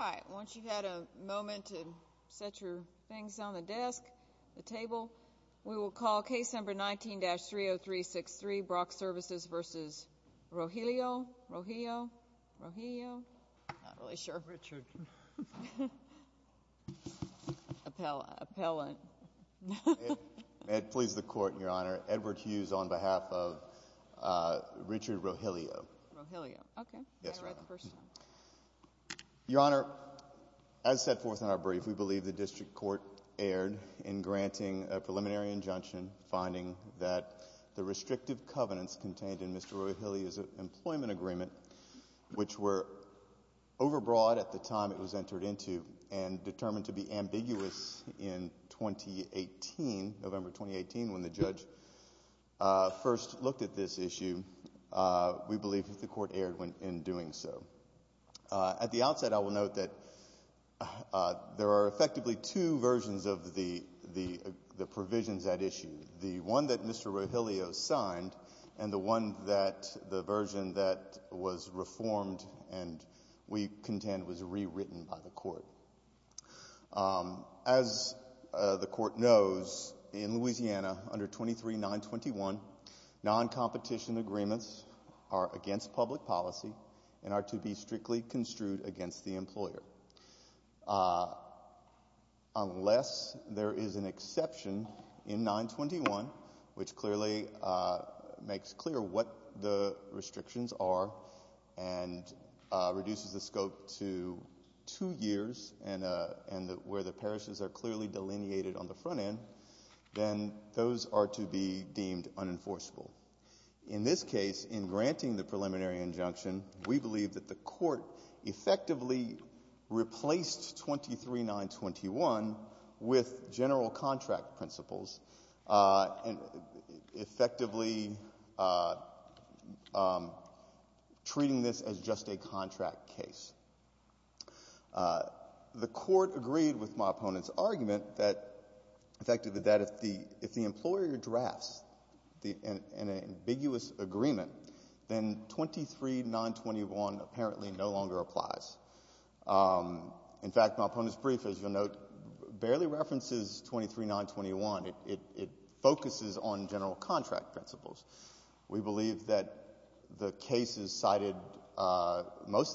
All right, once you've had a moment to set your things on the desk, the table, we will call Case No. 19-30363, Brock Services v. Rogillio, Rogillio, Rogillio, I'm not really sure. Richard. Appellant. It pleases the Court, Your Honor, Edward Hughes on behalf of Richard Rogillio. Rogillio. Okay. Yes, Your Honor. May I read the first one? Yes. I was at the hearing, a preliminary injunction finding that the restrictive covenants contained in Mr. Rogillio's employment agreement, which were overbroad at the time it was entered into, and determined to be ambiguous in 2018, November 2018, when the judge first looked at this issue, we believe that the Court erred in doing so. At the outset, I will note that there are effectively two versions of the provisions at issue. The one that Mr. Rogillio signed, and the one that, the version that was reformed and we contend was rewritten by the Court. As the Court knows, in Louisiana, under 23-921, non-competition agreements are against public policy and are to be strictly construed against the employer. Unless there is an exception in 921, which clearly makes clear what the restrictions are and reduces the scope to two years and where the parishes are clearly delineated on the front end, then those are to be deemed unenforceable. In this case, in granting the preliminary injunction, we believe that the Court effectively replaced 23-921 with general contract principles, effectively treating this as just a contract case. The Court agreed with my opponent's argument that, effectively, that if the employer drafts an ambiguous agreement, then 23-921 apparently no longer applies. In fact, my opponent's brief, as you'll note, barely references 23-921. It focuses on general contract principles. We believe that most of the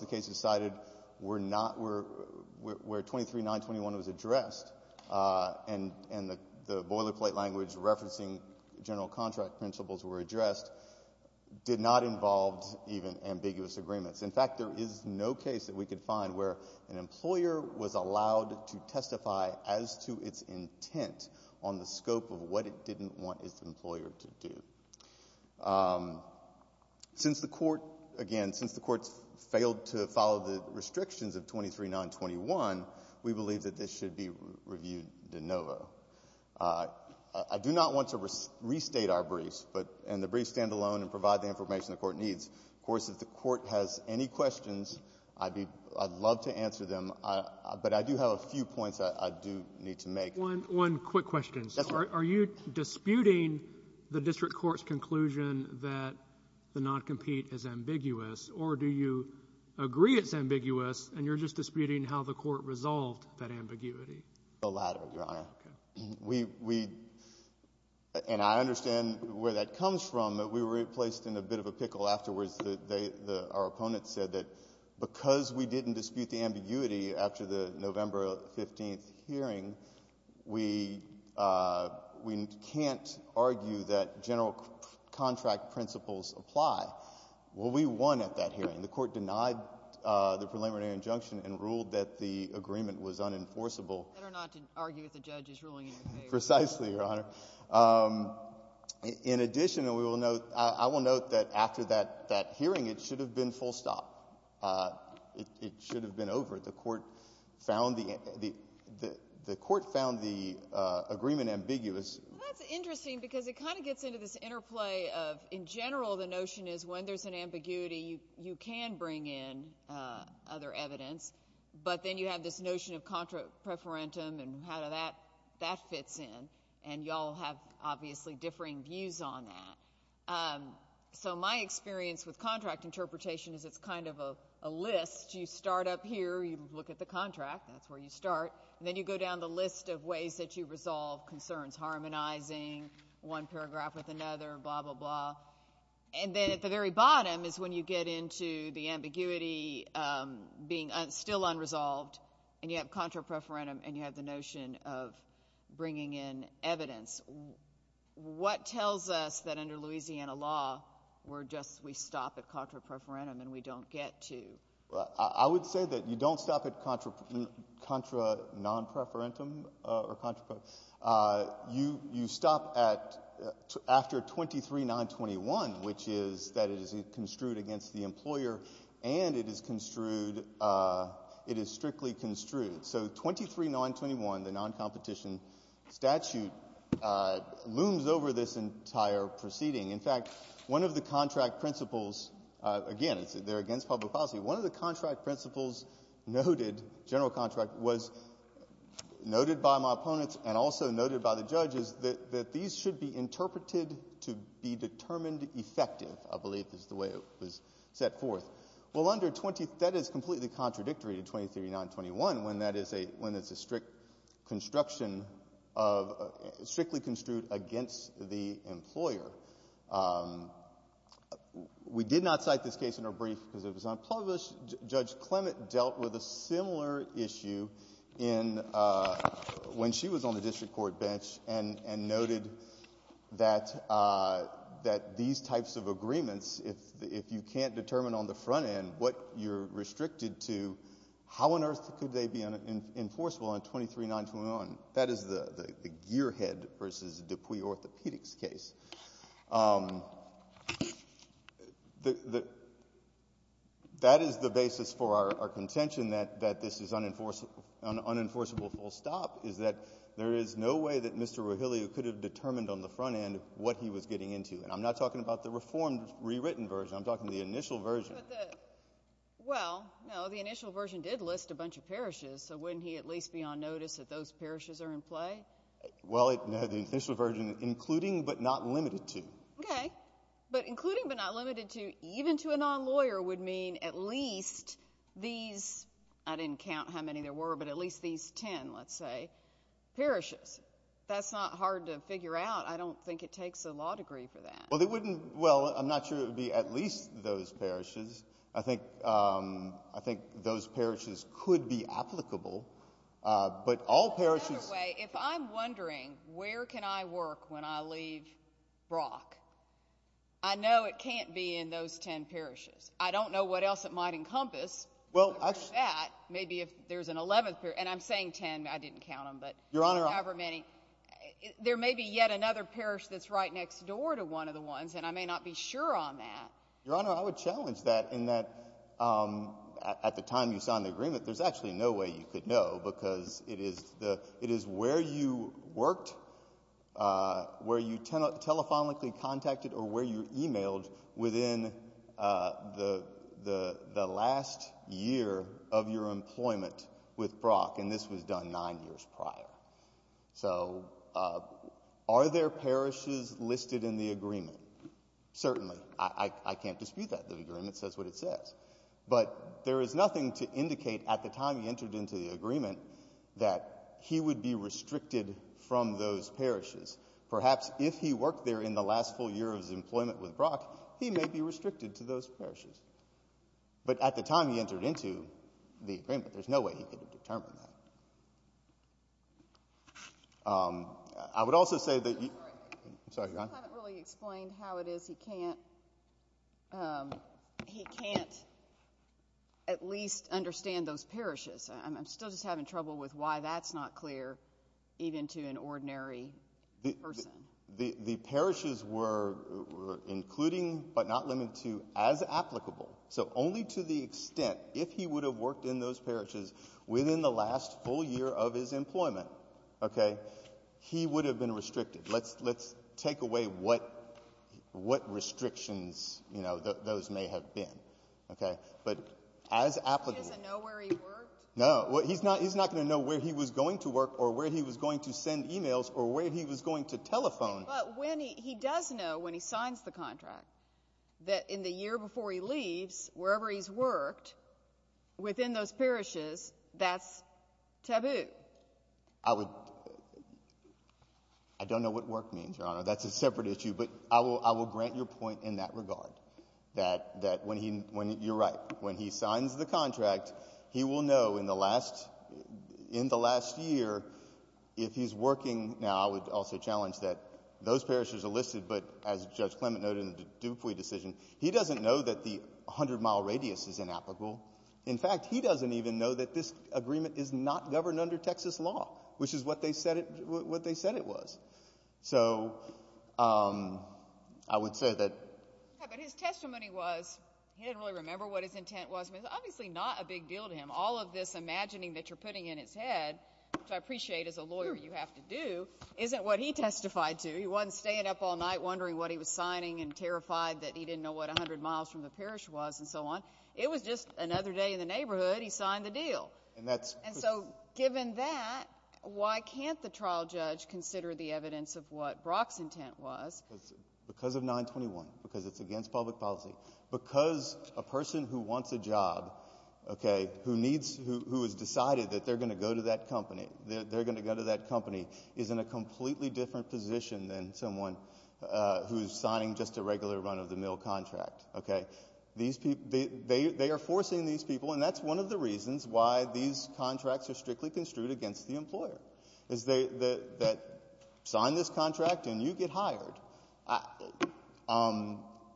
cases cited where 23-921 was addressed and the boilerplate language referencing general contract principles were addressed did not involve even ambiguous agreements. In fact, there is no case that we could find where an employer was allowed to testify as to its intent on the scope of what it didn't want its employer to do. Since the Court, again, since the Court failed to follow the restrictions of 23-921, we believe that this should be reviewed de novo. I do not want to restate our briefs and the briefs stand alone and provide the information the Court needs. Of course, if the Court has any questions, I'd love to answer them, but I do have a few points I do need to make. One quick question. Yes, sir. Are you disputing the District Court's conclusion that the non-compete is ambiguous, or do you agree it's ambiguous and you're just disputing how the Court resolved that ambiguity? The latter, Your Honor. And I understand where that comes from, but we were placed in a bit of a pickle afterwards. Our opponent said that because we didn't dispute the ambiguity after the November 15th hearing, we can't argue that general contract principles apply. Well, we won at that hearing. The Court denied the preliminary injunction and ruled that the agreement was unenforceable. Better not to argue with the judge's ruling in your favor. Precisely, Your Honor. In addition, I will note that after that hearing, it should have been full stop. It should have been over. The Court found the agreement ambiguous. That's interesting because it kind of gets into this interplay of, in general, the notion is when there's an ambiguity, you can bring in other evidence, but then you have this notion of contra preferentum and how that fits in. And y'all have, obviously, differing views on that. So, my experience with contract interpretation is it's kind of a list. You start up here. You look at the contract. That's where you start. And then you go down the list of ways that you resolve concerns, harmonizing one paragraph with another, blah, blah, blah. And then at the very bottom is when you get into the ambiguity being still unresolved and you have contra preferentum and you have the notion of bringing in evidence. What tells us that under Louisiana law, we're just, we stop at contra preferentum and we don't get to? I would say that you don't stop at contra non preferentum or contra preferentum. You stop at, after 23-921, which is that it is construed against the employer and it is strictly construed. So, 23-921, the non-competition statute, looms over this entire proceeding. In fact, one of the contract principles, again, they're against public policy, one of the contract principles noted, general contract, was noted by my opponents and also noted by the judges that these should be interpreted to be determined effective, I believe is the way it was set forth. Well, under 23, that is completely contradictory to 23-921 when that is a, when it's a strict construction of, strictly construed against the employer. We did not cite this case in our brief because it was unpublished. Judge Clement dealt with a similar issue in, when she was on the district court bench and noted that these types of agreements, if you can't determine on the front end what you're restricted to, how on earth could they be enforceable on 23-921? That is the gearhead versus dupuis orthopedics case. That is the basis for our contention that this is unenforceable, unenforceable full stop, is that there is no way that Mr. Rahilly could have determined on the front end what he was getting into. And I'm not talking about the reformed, rewritten version. I'm talking the initial version. But the, well, no, the initial version did list a bunch of parishes. So wouldn't he at least be on notice that those parishes are in play? Well, the initial version, including but not limited to. Okay. But including but not limited to, even to a non-lawyer would mean at least these, I would say, parishes. That's not hard to figure out. I don't think it takes a law degree for that. Well, they wouldn't, well, I'm not sure it would be at least those parishes. I think those parishes could be applicable. But all parishes. By the way, if I'm wondering where can I work when I leave Brock, I know it can't be in those 10 parishes. I don't know what else it might encompass. Maybe if there's an 11th parish. And I'm saying 10. I didn't count them. But however many. There may be yet another parish that's right next door to one of the ones. And I may not be sure on that. Your Honor, I would challenge that in that at the time you signed the agreement, there's actually no way you could know. Because it is where you worked, where you telephonically contacted, or where you emailed within the last year of your employment with Brock. And this was done nine years prior. So are there parishes listed in the agreement? Certainly. I can't dispute that. The agreement says what it says. But there is nothing to indicate at the time he entered into the agreement that he would be restricted from those parishes. Perhaps if he worked there in the last full year of his employment with Brock, he may be restricted to those parishes. But at the time he entered into the agreement, there's no way he could have determined that. I would also say that you. I'm sorry, Your Honor. You haven't really explained how it is he can't at least understand those parishes. I'm still just having trouble with why that's not clear even to an ordinary person. The parishes were including but not limited to as applicable. So only to the extent, if he would have worked in those parishes within the last full year of his employment, he would have been restricted. Let's take away what restrictions those may have been. But as applicable. He doesn't know where he worked? No. He's not going to know where he was going to work or where he was going to send emails or where he was going to telephone. But he does know when he signs the contract that in the year before he leaves, wherever he's worked within those parishes, that's taboo. I don't know what work means, Your Honor. That's a separate issue. But I will grant your point in that regard, that when he—you're right. When he signs the contract, he will know in the last year if he's working. Now, I would also challenge that those parishes are listed, but as Judge Clement noted in the Dupuy decision, he doesn't know that the 100-mile radius is inapplicable. In fact, he doesn't even know that this agreement is not governed under Texas law, which is what they said it was. So I would say that— Yeah, but his testimony was he didn't really remember what his intent was. It was obviously not a big deal to him. All of this imagining that you're putting in his head, which I appreciate as a lawyer you have to do, isn't what he testified to. He wasn't staying up all night wondering what he was signing and terrified that he didn't know what 100 miles from the parish was and so on. It was just another day in the neighborhood. He signed the deal. And that's— And so given that, why can't the trial judge consider the evidence of what Brock's intent was? Because of 921, because it's against public policy, because a person who wants a job, who needs—who has decided that they're going to go to that company, they're going to go to that company, is in a completely different position than someone who is signing just a regular run-of-the-mill contract. They are forcing these people, and that's one of the reasons why these contracts are strictly construed against the employer, is they—that sign this contract and you get hired.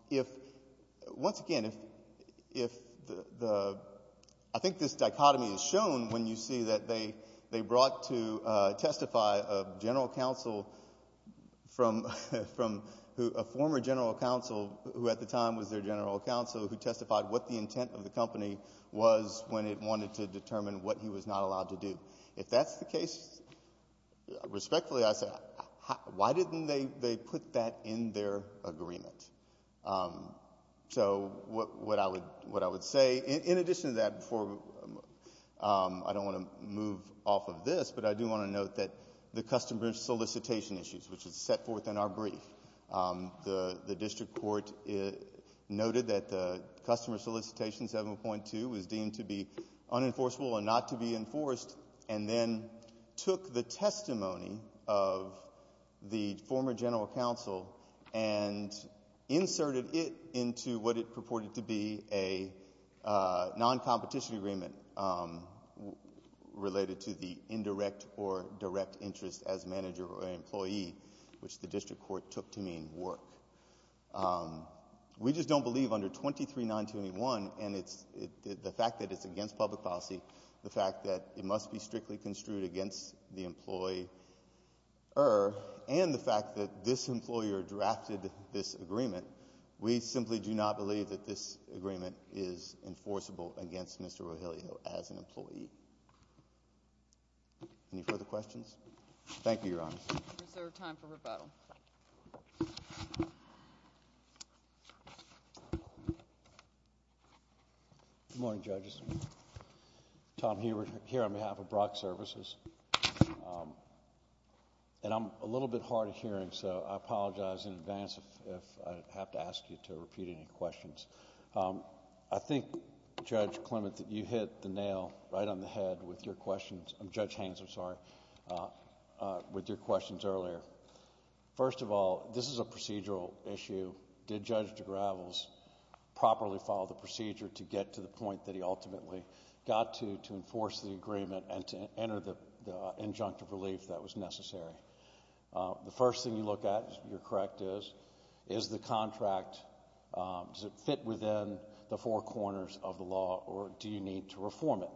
If—once again, if the—I think this dichotomy is shown when you see that they brought to testify a general counsel from—a former general counsel, who at the time was their general counsel, who testified what the intent of the company was when it wanted to determine what he was not allowed to do. If that's the case, respectfully, I say, why didn't they put that in their agreement? So what I would say, in addition to that, before—I don't want to move off of this, but I do want to note that the customer solicitation issues, which is set forth in our brief, the district court noted that the customer solicitation 7.2 was deemed to be unenforceable and not to be enforced, and then took the testimony of the former general counsel and inserted it into what it purported to be a non-competition agreement related to the indirect or direct interest as manager or employee, which the district court took to mean work. We just don't believe under 23-921, and it's—the fact that it's against public policy, the fact that it must be strictly construed against the employer, and the fact that this employer drafted this agreement, we simply do not believe that this agreement is enforceable against Mr. Rogelio as an employee. Any further questions? Thank you, Your Honor. Is there time for rebuttal? Good morning, judges. Tom Hubert here on behalf of Brock Services. I'm a little bit hard of hearing, so I apologize in advance if I have to ask you to repeat any questions. I think, Judge Clement, that you hit the nail right on the head with your questions—Judge Haynes, I'm sorry—with your questions earlier. First of all, this is a procedural issue. Did Judge DeGravels properly follow the procedure to get to the point that he ultimately got to, to enforce the agreement and to enter the injunctive relief that was necessary? The first thing you look at, if you're correct, is, is the contract—does it fit within the four corners of the law, or do you need to reform it?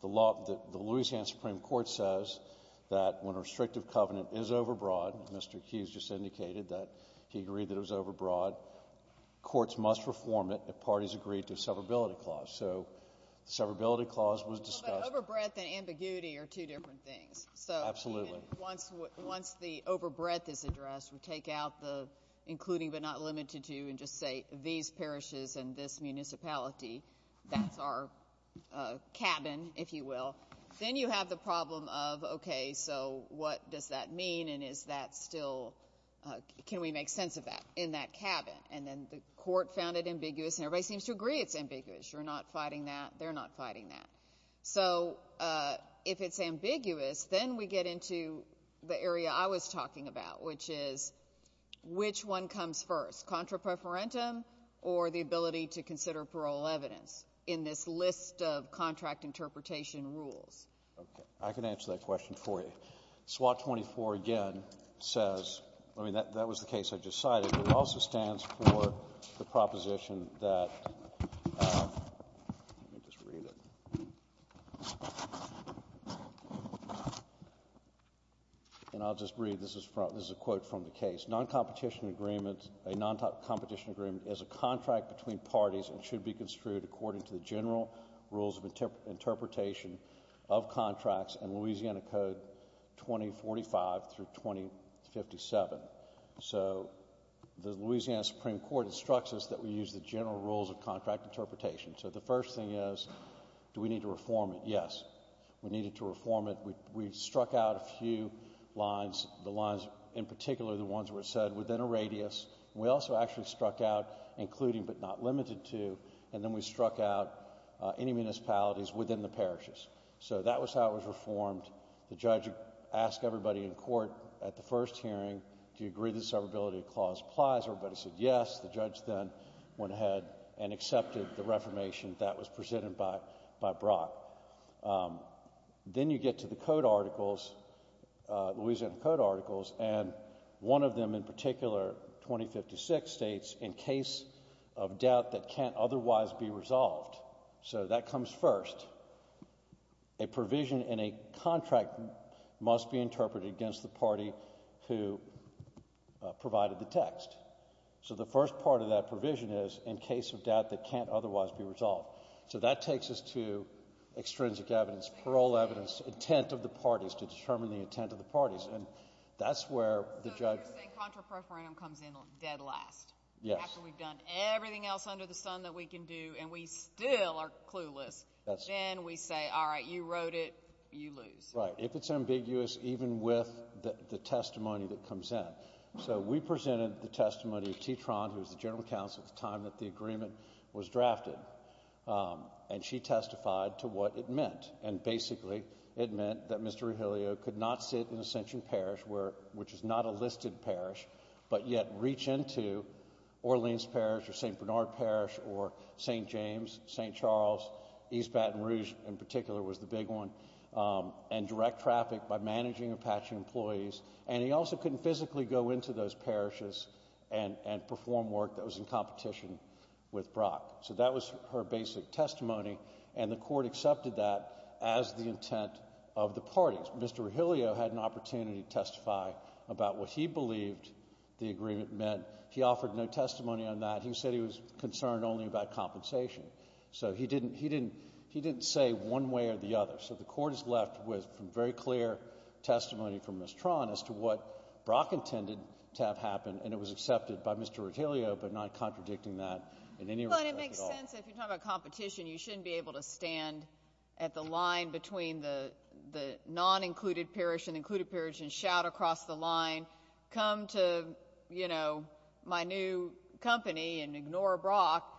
The Louisiana Supreme Court says that when a restrictive covenant is overbroad, Mr. Hughes just indicated that he agreed that it was overbroad, courts must reform it if parties agree to a severability clause. So the severability clause was discussed— Well, but overbreadth and ambiguity are two different things. Absolutely. So once the overbreadth is addressed, we take out the including but not limited to and just say these parishes and this municipality, that's our cabin, if you will. Then you have the problem of, okay, so what does that mean, and is that still—can we make sense of that in that cabin? And then the court found it ambiguous, and everybody seems to agree it's ambiguous. You're not fighting that. They're not fighting that. So if it's ambiguous, then we get into the area I was talking about, which is which one comes first, contra preferentum or the ability to consider parole evidence in this list of contract interpretation rules? Okay. I can answer that question for you. SWOT 24, again, says—I mean, that was the case I just cited. It also stands for the proposition that—let me just read it. And I'll just read—this is a quote from the case. A non-competition agreement is a contract between parties and should be construed according to the general rules of interpretation of contracts in Louisiana Code 2045 through 2057. So the Louisiana Supreme Court instructs us that we use the general rules of contract interpretation. So the first thing is, do we need to reform it? Yes. We needed to reform it. We struck out a few lines, the lines—in particular, the ones that were said—within a radius. We also actually struck out including but not limited to, and then we struck out any municipalities within the parishes. So that was how it was reformed. The judge asked everybody in court at the first hearing, do you agree that severability clause applies? Everybody said yes. The judge then went ahead and accepted the reformation that was presented by Brock. Then you get to the code articles, Louisiana Code articles, and one of them in particular, 2056, states, in case of doubt that can't otherwise be resolved. So that comes first. A provision in a contract must be interpreted against the party who provided the text. So the first part of that provision is, in case of doubt that can't otherwise be resolved. So that takes us to extrinsic evidence, parole evidence, intent of the parties to determine the intent of the parties, and that's where the judge— So you're saying contraproferendum comes in dead last. Yes. After we've done everything else under the sun that we can do and we still are clueless, then we say, all right, you wrote it, you lose. Right. If it's ambiguous, even with the testimony that comes in. So we presented the testimony of T. Tron, who was the general counsel at the time that the agreement was drafted. And she testified to what it meant. And basically, it meant that Mr. Rogelio could not sit in Ascension Parish, which is not a listed parish, but yet reach into Orleans Parish or St. Bernard Parish or St. James, St. Charles, East Baton Rouge in particular was the big one, and direct traffic by managing Apache employees. And he also couldn't physically go into those parishes and perform work that was in competition with Brock. So that was her basic testimony, and the court accepted that as the intent of the parties. Mr. Rogelio had an opportunity to testify about what he believed the agreement meant. He offered no testimony on that. He said he was concerned only about compensation. So he didn't say one way or the other. So the court is left with some very clear testimony from Ms. Tron as to what Brock intended to have happen, and it was accepted by Mr. Rogelio, but not contradicting that in any way. Well, it makes sense if you're talking about competition. You shouldn't be able to stand at the line between the non-included parish and the included parish and shout across the line, come to my new company and ignore Brock.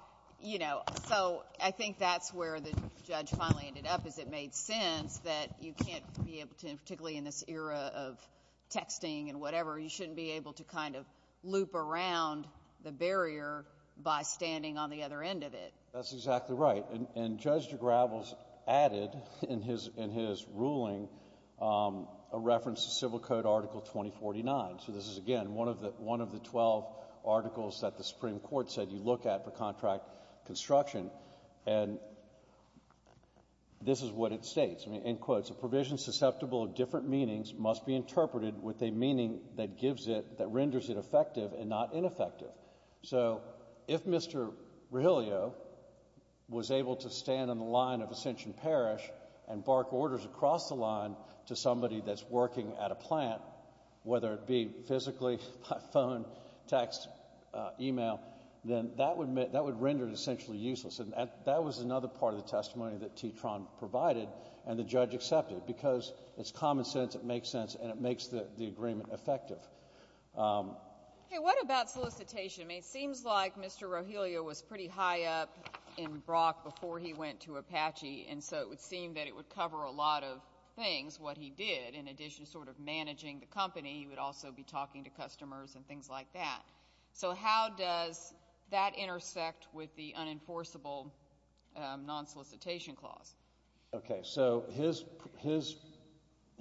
So I think that's where the judge finally ended up is it made sense that you can't be able to, particularly in this era of texting and whatever, you shouldn't be able to kind of loop around the barrier by standing on the other end of it. That's exactly right, and Judge DeGravels added in his ruling a reference to Civil Code Article 2049. So this is, again, one of the twelve articles that the Supreme Court said you look at for contract construction, and this is what it states. A provision susceptible of different meanings must be interpreted with a meaning that gives it, that renders it effective and not ineffective. So if Mr. Rogelio was able to stand on the line of Ascension Parish and bark orders across the line to somebody that's working at a plant, whether it be physically, by phone, text, email, then that would render it essentially useless. And that was another part of the testimony that T. Tron provided and the judge accepted, because it's common sense, it makes sense, and it makes the agreement effective. What about solicitation? It seems like Mr. Rogelio was pretty high up in Brock before he went to Apache, and so it would seem that it would cover a lot of things, what he did, in addition to sort of managing the company, he would also be talking to customers and things like that. So how does that intersect with the unenforceable non-solicitation clause? Okay, so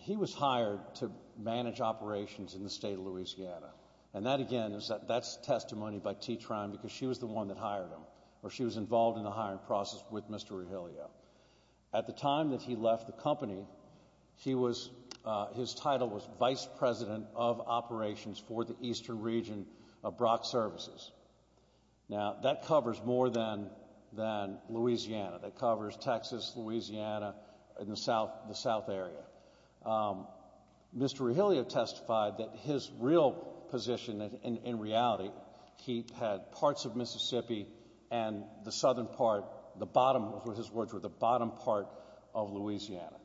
he was hired to manage operations in the state of Louisiana, and that, again, that's testimony by T. Tron because she was the one that hired him, or she was involved in the hiring process with Mr. Rogelio. At the time that he left the company, his title was vice president of operations for the eastern region of Brock Services. Now, that covers more than Louisiana. That covers Texas, Louisiana, and the south area. Mr. Rogelio testified that his real position, in reality, he had parts of Mississippi and the southern part, the bottom, his words were the bottom part of Louisiana.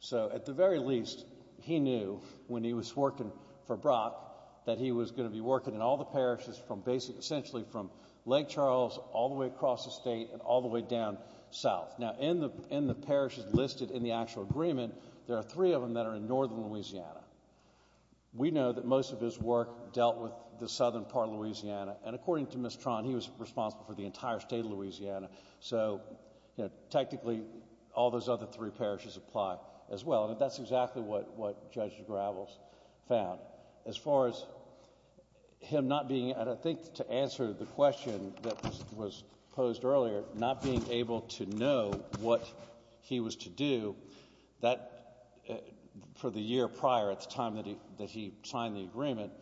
So at the very least, he knew when he was working for Brock that he was going to be working in all the parishes from basically essentially from Lake Charles all the way across the state and all the way down south. Now, in the parishes listed in the actual agreement, there are three of them that are in northern Louisiana. We know that most of his work dealt with the southern part of Louisiana, and according to Ms. Tron, he was responsible for the entire state of Louisiana. So technically, all those other three parishes apply as well, and that's exactly what Judge Gravels found. As far as him not being able to answer the question that was posed earlier, not being able to know what he was to do, for the year prior, at the time that he signed the agreement,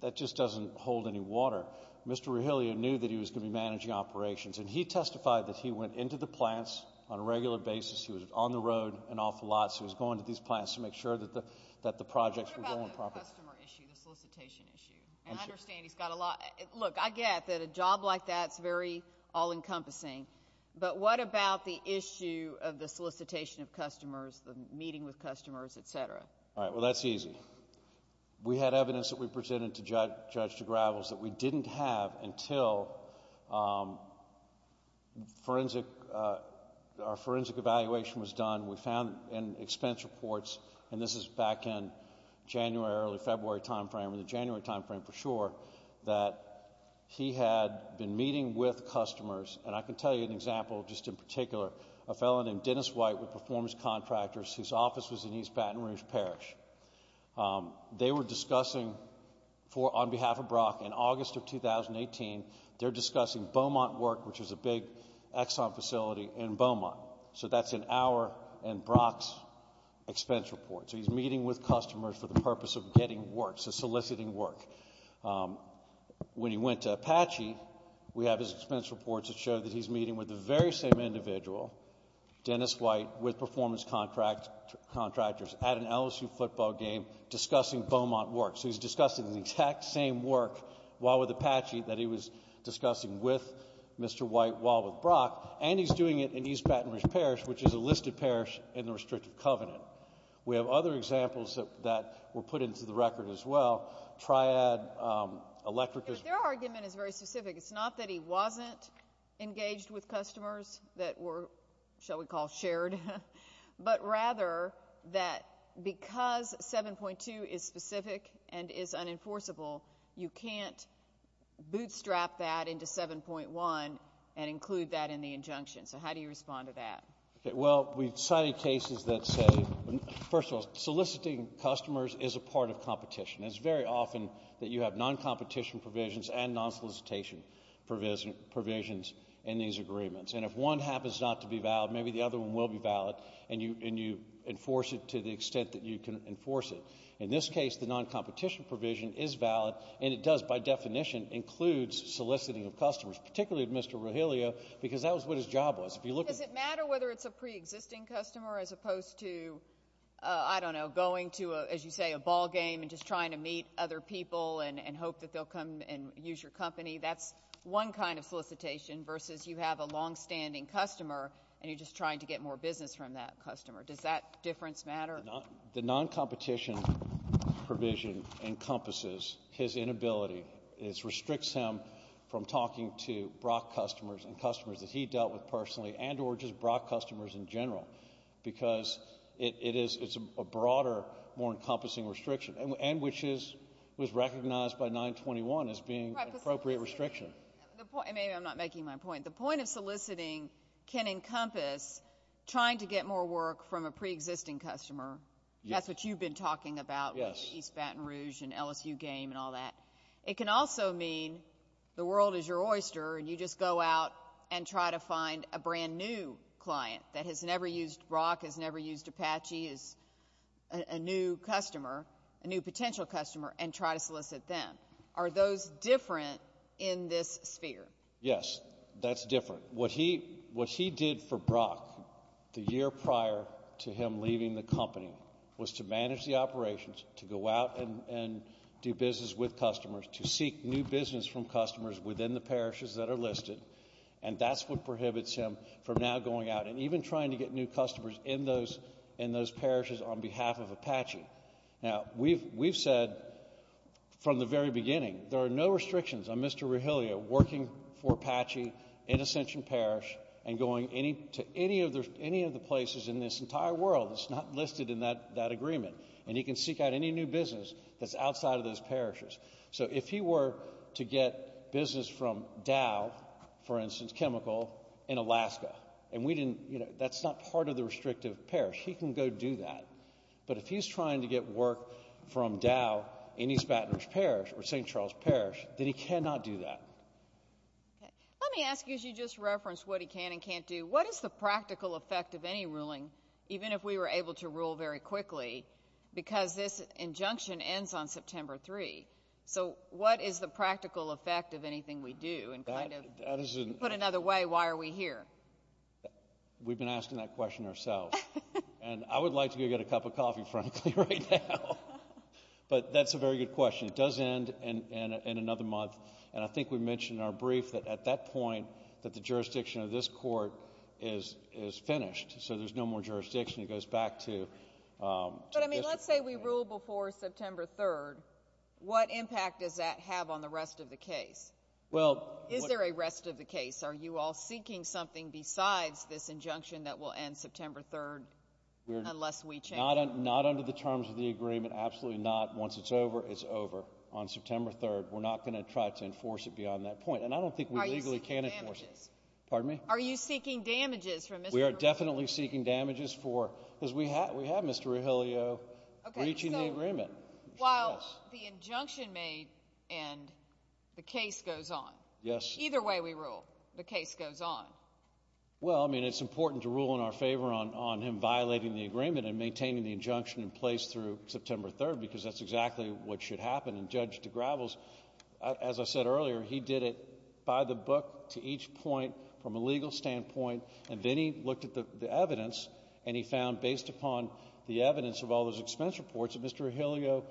that just doesn't hold any water. Mr. Rogelio knew that he was going to be managing operations, and he testified that he went into the plants on a regular basis. He was on the road and off a lot, so he was going to these plants to make sure that the projects were going properly. What about the customer issue, the solicitation issue? I understand he's got a lot. Look, I get that a job like that is very all-encompassing, but what about the issue of the solicitation of customers, the meeting with customers, et cetera? All right, well, that's easy. We had evidence that we presented to Judge Gravels that we didn't have until our forensic evaluation was done. We found in expense reports, and this is back in January, early February timeframe, or the January timeframe for sure, that he had been meeting with customers, and I can tell you an example just in particular. A fellow named Dennis White with Performance Contractors, whose office was in East Baton Rouge Parish, they were discussing on behalf of Brock in August of 2018, they're discussing Beaumont work, which is a big Exxon facility in Beaumont. So that's in our and Brock's expense report. So he's meeting with customers for the purpose of getting work, so soliciting work. When he went to Apache, we have his expense reports that show that he's meeting with the very same individual, Dennis White with Performance Contractors, at an LSU football game discussing Beaumont work. So he's discussing the exact same work while with Apache that he was discussing with Mr. White while with Brock, and he's doing it in East Baton Rouge Parish, which is a listed parish in the Restricted Covenant. We have other examples that were put into the record as well, Triad, Electrica. Their argument is very specific. It's not that he wasn't engaged with customers that were, shall we call, shared, but rather that because 7.2 is specific and is unenforceable, you can't bootstrap that into 7.1 and include that in the injunction. So how do you respond to that? Well, we've cited cases that say, first of all, soliciting customers is a part of competition. It's very often that you have non-competition provisions and non-solicitation provisions in these agreements. And if one happens not to be valid, maybe the other one will be valid, and you enforce it to the extent that you can enforce it. In this case, the non-competition provision is valid, and it does, by definition, include soliciting of customers, particularly of Mr. Rogelio, because that was what his job was. Does it matter whether it's a preexisting customer as opposed to, I don't know, going to, as you say, a ballgame and just trying to meet other people and hope that they'll come and use your company? That's one kind of solicitation versus you have a longstanding customer and you're just trying to get more business from that customer. Does that difference matter? The non-competition provision encompasses his inability. It restricts him from talking to Brock customers and customers that he dealt with personally and or just Brock customers in general because it's a broader, more encompassing restriction, and which was recognized by 921 as being an appropriate restriction. Maybe I'm not making my point. The point of soliciting can encompass trying to get more work from a preexisting customer. That's what you've been talking about with East Baton Rouge and LSU game and all that. It can also mean the world is your oyster and you just go out and try to find a brand-new client that has never used Brock, has never used Apache as a new customer, a new potential customer, and try to solicit them. Are those different in this sphere? Yes, that's different. What he did for Brock the year prior to him leaving the company was to manage the operations, to go out and do business with customers, to seek new business from customers within the parishes that are listed, and that's what prohibits him from now going out and even trying to get new customers in those parishes on behalf of Apache. Now, we've said from the very beginning there are no restrictions on Mr. Rogelio working for Apache in Ascension Parish and going to any of the places in this entire world that's not listed in that agreement, and he can seek out any new business that's outside of those parishes. So if he were to get business from Dow, for instance, Chemical, in Alaska, and that's not part of the restrictive parish, he can go do that. But if he's trying to get work from Dow, any Spatner's parish, or St. Charles Parish, then he cannot do that. Let me ask you, as you just referenced what he can and can't do, what is the practical effect of any ruling, even if we were able to rule very quickly, because this injunction ends on September 3? So what is the practical effect of anything we do? To put it another way, why are we here? We've been asking that question ourselves. And I would like to go get a cup of coffee, frankly, right now. But that's a very good question. It does end in another month, and I think we mentioned in our brief that at that point that the jurisdiction of this court is finished, so there's no more jurisdiction. It goes back to district. But, I mean, let's say we rule before September 3. What impact does that have on the rest of the case? Is there a rest of the case? Are you all seeking something besides this injunction that will end September 3 unless we change it? Not under the terms of the agreement. Absolutely not. Once it's over, it's over on September 3. We're not going to try to enforce it beyond that point. And I don't think we legally can enforce it. Are you seeking damages? Pardon me? Are you seeking damages from Mr. Burwell? We are definitely seeking damages because we have Mr. Rogelio breaching the agreement. While the injunction may end, the case goes on. Either way we rule, the case goes on. Well, I mean, it's important to rule in our favor on him violating the agreement and maintaining the injunction in place through September 3 because that's exactly what should happen. And Judge DeGravels, as I said earlier, he did it by the book to each point from a legal standpoint. And then he looked at the evidence and he found based upon the evidence of all those expense reports that Mr. Rogelio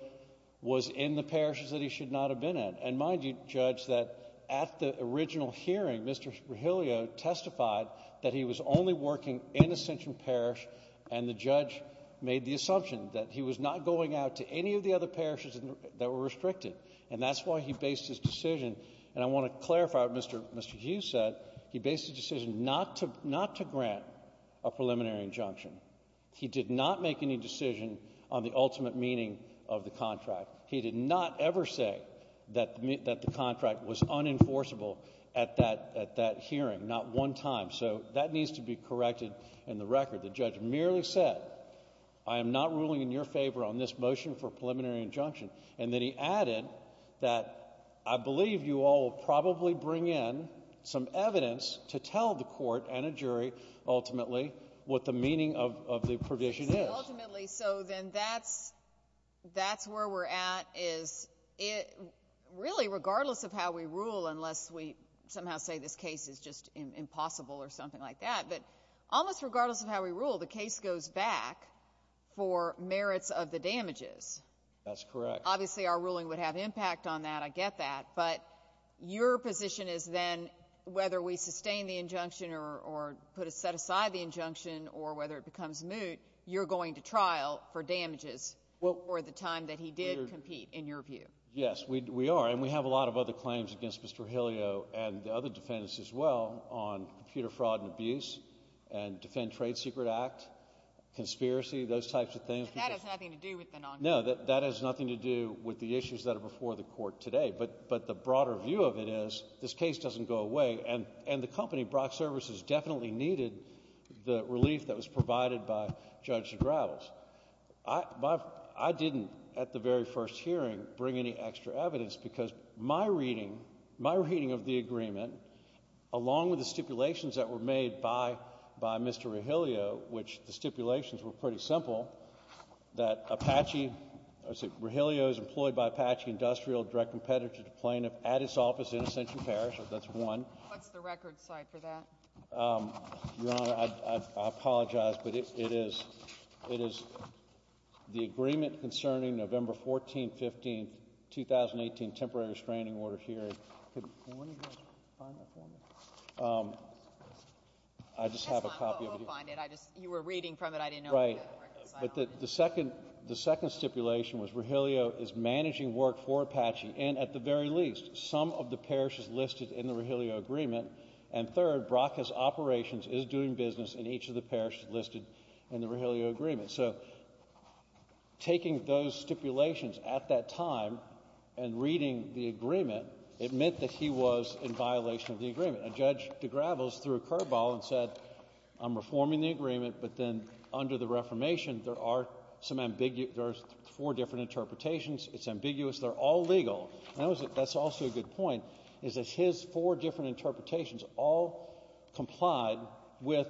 was in the parishes that he should not have been in. And mind you, Judge, that at the original hearing, Mr. Rogelio testified that he was only working in Ascension Parish and the judge made the assumption that he was not going out to any of the other parishes that were restricted. And that's why he based his decision. And I want to clarify what Mr. Hughes said. He based his decision not to grant a preliminary injunction. He did not make any decision on the ultimate meaning of the contract. He did not ever say that the contract was unenforceable at that hearing, not one time. So that needs to be corrected in the record. The judge merely said, I am not ruling in your favor on this motion for preliminary injunction. And then he added that I believe you all will probably bring in some evidence to tell the court and a jury ultimately what the meaning of the provision is. Ultimately, so then that's where we're at is really regardless of how we rule, unless we somehow say this case is just impossible or something like that, but almost regardless of how we rule, the case goes back for merits of the damages. That's correct. Obviously our ruling would have impact on that. I get that. But your position is then whether we sustain the injunction or set aside the injunction or whether it becomes moot, you're going to trial for damages for the time that he did compete in your view. Yes, we are. And we have a lot of other claims against Mr. Hillio and the other defendants as well on computer fraud and abuse and defend trade secret act, conspiracy, those types of things. But that has nothing to do with the non-court. No, that has nothing to do with the issues that are before the court today. But the broader view of it is this case doesn't go away. And the company, Brock Services, definitely needed the relief that was provided by Judge Gravels. I didn't at the very first hearing bring any extra evidence because my reading of the agreement, along with the stipulations that were made by Mr. Hillio, which the stipulations were pretty simple, that Apache, Hillio is employed by Apache Industrial Direct Competitive Plaintiff at its office in Ascension Parish. That's one. What's the record site for that? Your Honor, I apologize, but it is the agreement concerning November 14, 15, 2018 temporary restraining order hearing. Could one of you find that for me? I just have a copy of it. You were reading from it. I didn't know. Right. But the second stipulation was Hillio is managing work for Apache. And at the very least, some of the parishes listed in the Hillio agreement. And third, Brock has operations, is doing business in each of the parishes listed in the Hillio agreement. So taking those stipulations at that time and reading the agreement, it meant that he was in violation of the agreement. A judge de Gravels threw a curveball and said, I'm reforming the agreement, but then under the Reformation there are four different interpretations. It's ambiguous. They're all legal. That's also a good point, is that his four different interpretations all complied with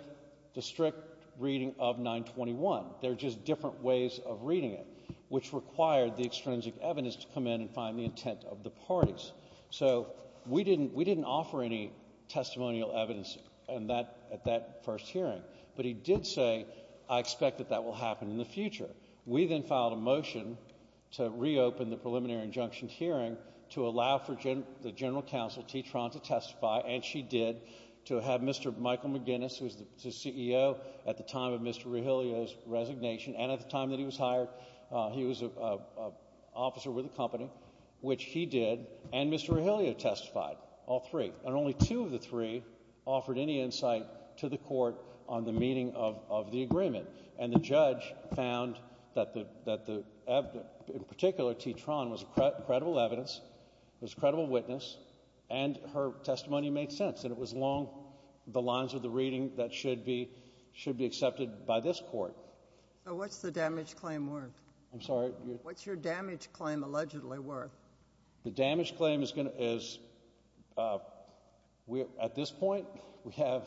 the strict reading of 921. They're just different ways of reading it, which required the extrinsic evidence to come in and find the intent of the parties. So we didn't offer any testimonial evidence at that first hearing. But he did say, I expect that that will happen in the future. We then filed a motion to reopen the preliminary injunction hearing to allow for the general counsel, T. Tron, to testify, and she did, to have Mr. Michael McGinnis, who was the CEO at the time of Mr. Hillio's resignation and at the time that he was hired. He was an officer with the company, which he did. And Mr. Hillio testified, all three. And only two of the three offered any insight to the court on the meaning of the agreement. And the judge found that, in particular, T. Tron was credible evidence, was a credible witness, and her testimony made sense. And it was along the lines of the reading that should be accepted by this court. So what's the damage claim worth? I'm sorry? What's your damage claim allegedly worth? The damage claim is, at this point, we have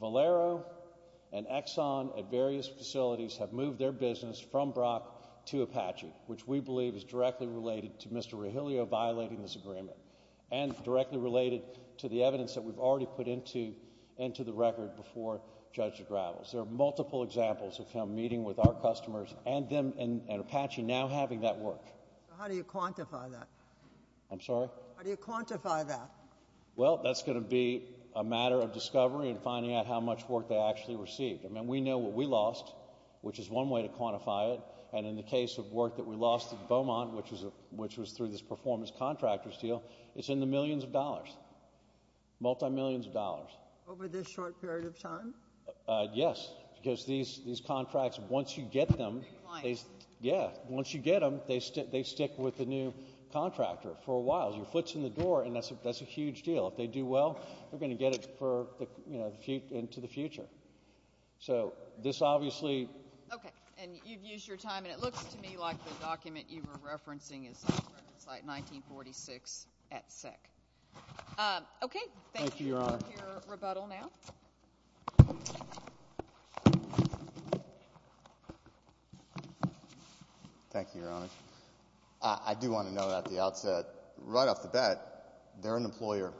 Valero and Exxon at various facilities have moved their business from Brock to Apache, which we believe is directly related to Mr. Hillio violating this agreement, and directly related to the evidence that we've already put into the record before Judge Gravels. There are multiple examples of him meeting with our customers and Apache now having that work. How do you quantify that? I'm sorry? How do you quantify that? Well, that's going to be a matter of discovery and finding out how much work they actually received. I mean, we know what we lost, which is one way to quantify it. And in the case of work that we lost at Beaumont, which was through this performance contractors deal, it's in the millions of dollars. Multi-millions of dollars. Over this short period of time? Yes, because these contracts, once you get them, they stick with the new contractor for a while. Your foot's in the door, and that's a huge deal. If they do well, they're going to get it into the future. So this obviously – Okay. And you've used your time, and it looks to me like the document you were referencing is different. It's like 1946 at SEC. Okay. Thank you for your rebuttal now. Thank you, Your Honor. I do want to note at the outset, right off the bat, they're an employer.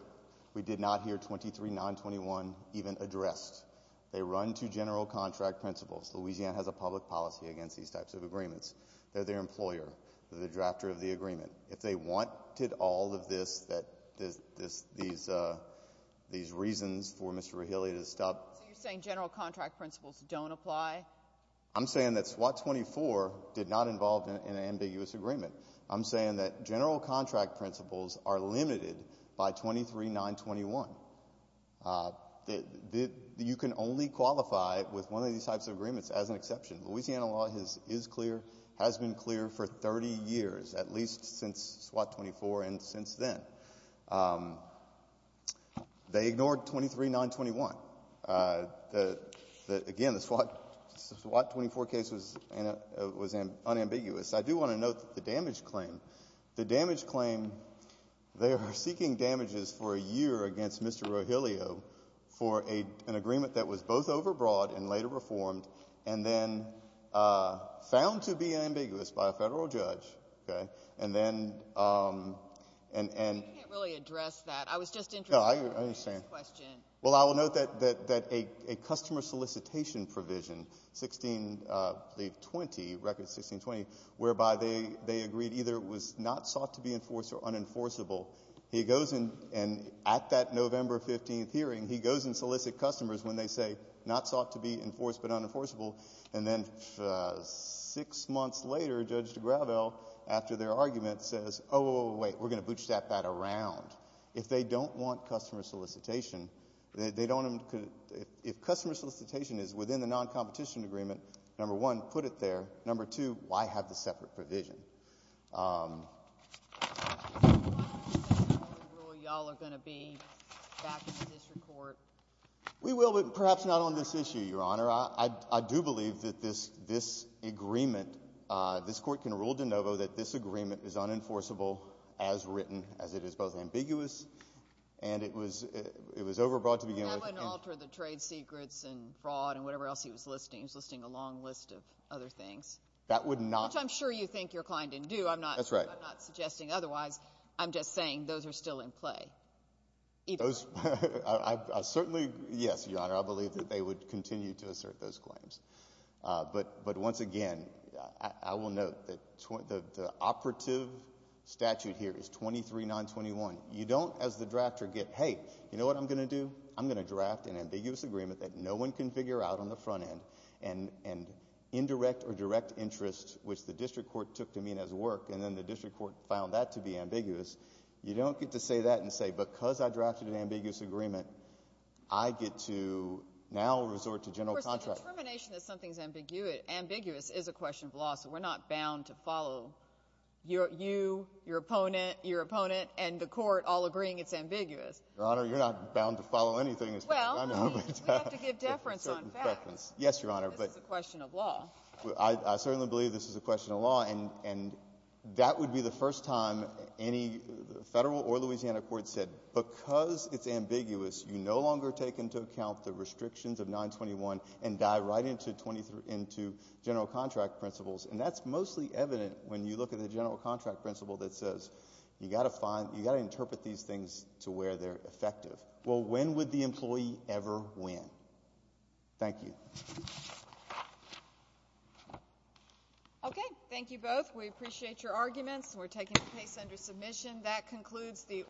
We did not hear 23-921 even addressed. They run to general contract principles. Louisiana has a public policy against these types of agreements. They're their employer. They're the drafter of the agreement. If they wanted all of this, these reasons for Mr. Rehilly to stop – So you're saying general contract principles don't apply? I'm saying that SWOT 24 did not involve an ambiguous agreement. I'm saying that general contract principles are limited by 23-921. You can only qualify with one of these types of agreements as an exception. Louisiana law is clear, has been clear for 30 years, at least since SWOT 24 and since then. They ignored 23-921. Again, the SWOT 24 case was unambiguous. I do want to note the damage claim. The damage claim, they are seeking damages for a year against Mr. Rehilly for an agreement that was both overbroad and later reformed and then found to be ambiguous by a federal judge. I can't really address that. I was just interested in hearing this question. Well, I will note that a customer solicitation provision, 1620, whereby they agreed either it was not sought to be enforced or unenforceable, he goes and at that November 15th hearing, he goes and solicits customers when they say not sought to be enforced but unenforceable. And then six months later, Judge DeGravelle, after their argument, says, oh, wait, we're going to bootstrap that around. If they don't want customer solicitation, if customer solicitation is within the non-competition agreement, number one, put it there. Number two, why have the separate provision? Why is this the only rule you all are going to be back in the district court? We will, but perhaps not on this issue, Your Honor. I do believe that this agreement, this court can rule de novo that this agreement is unenforceable as written, as it is both ambiguous and it was overbroad to begin with. That wouldn't alter the trade secrets and fraud and whatever else he was listing. He was listing a long list of other things. That would not. Which I'm sure you think your client didn't do. That's right. I'm not suggesting otherwise. I'm just saying those are still in play. I certainly, yes, Your Honor, I believe that they would continue to assert those claims. But once again, I will note that the operative statute here is 23-921. You don't, as the drafter, get, hey, you know what I'm going to do? I'm going to draft an ambiguous agreement that no one can figure out on the front end and indirect or direct interest, which the district court took to mean as work, and then the district court found that to be ambiguous. You don't get to say that and say because I drafted an ambiguous agreement, I get to now resort to general contract. Of course, the determination that something is ambiguous is a question of law, so we're not bound to follow you, your opponent, your opponent, and the court all agreeing it's ambiguous. Your Honor, you're not bound to follow anything. Well, we have to give deference on facts. Yes, Your Honor. This is a question of law. I certainly believe this is a question of law, and that would be the first time any federal or Louisiana court said because it's ambiguous, you no longer take into account the restrictions of 921 and dive right into general contract principles, and that's mostly evident when you look at the general contract principle that says you've got to find, you've got to interpret these things to where they're effective. Well, when would the employee ever win? Thank you. Okay. Thank you both. We appreciate your arguments, and we're taking the case under submission. That concludes the order.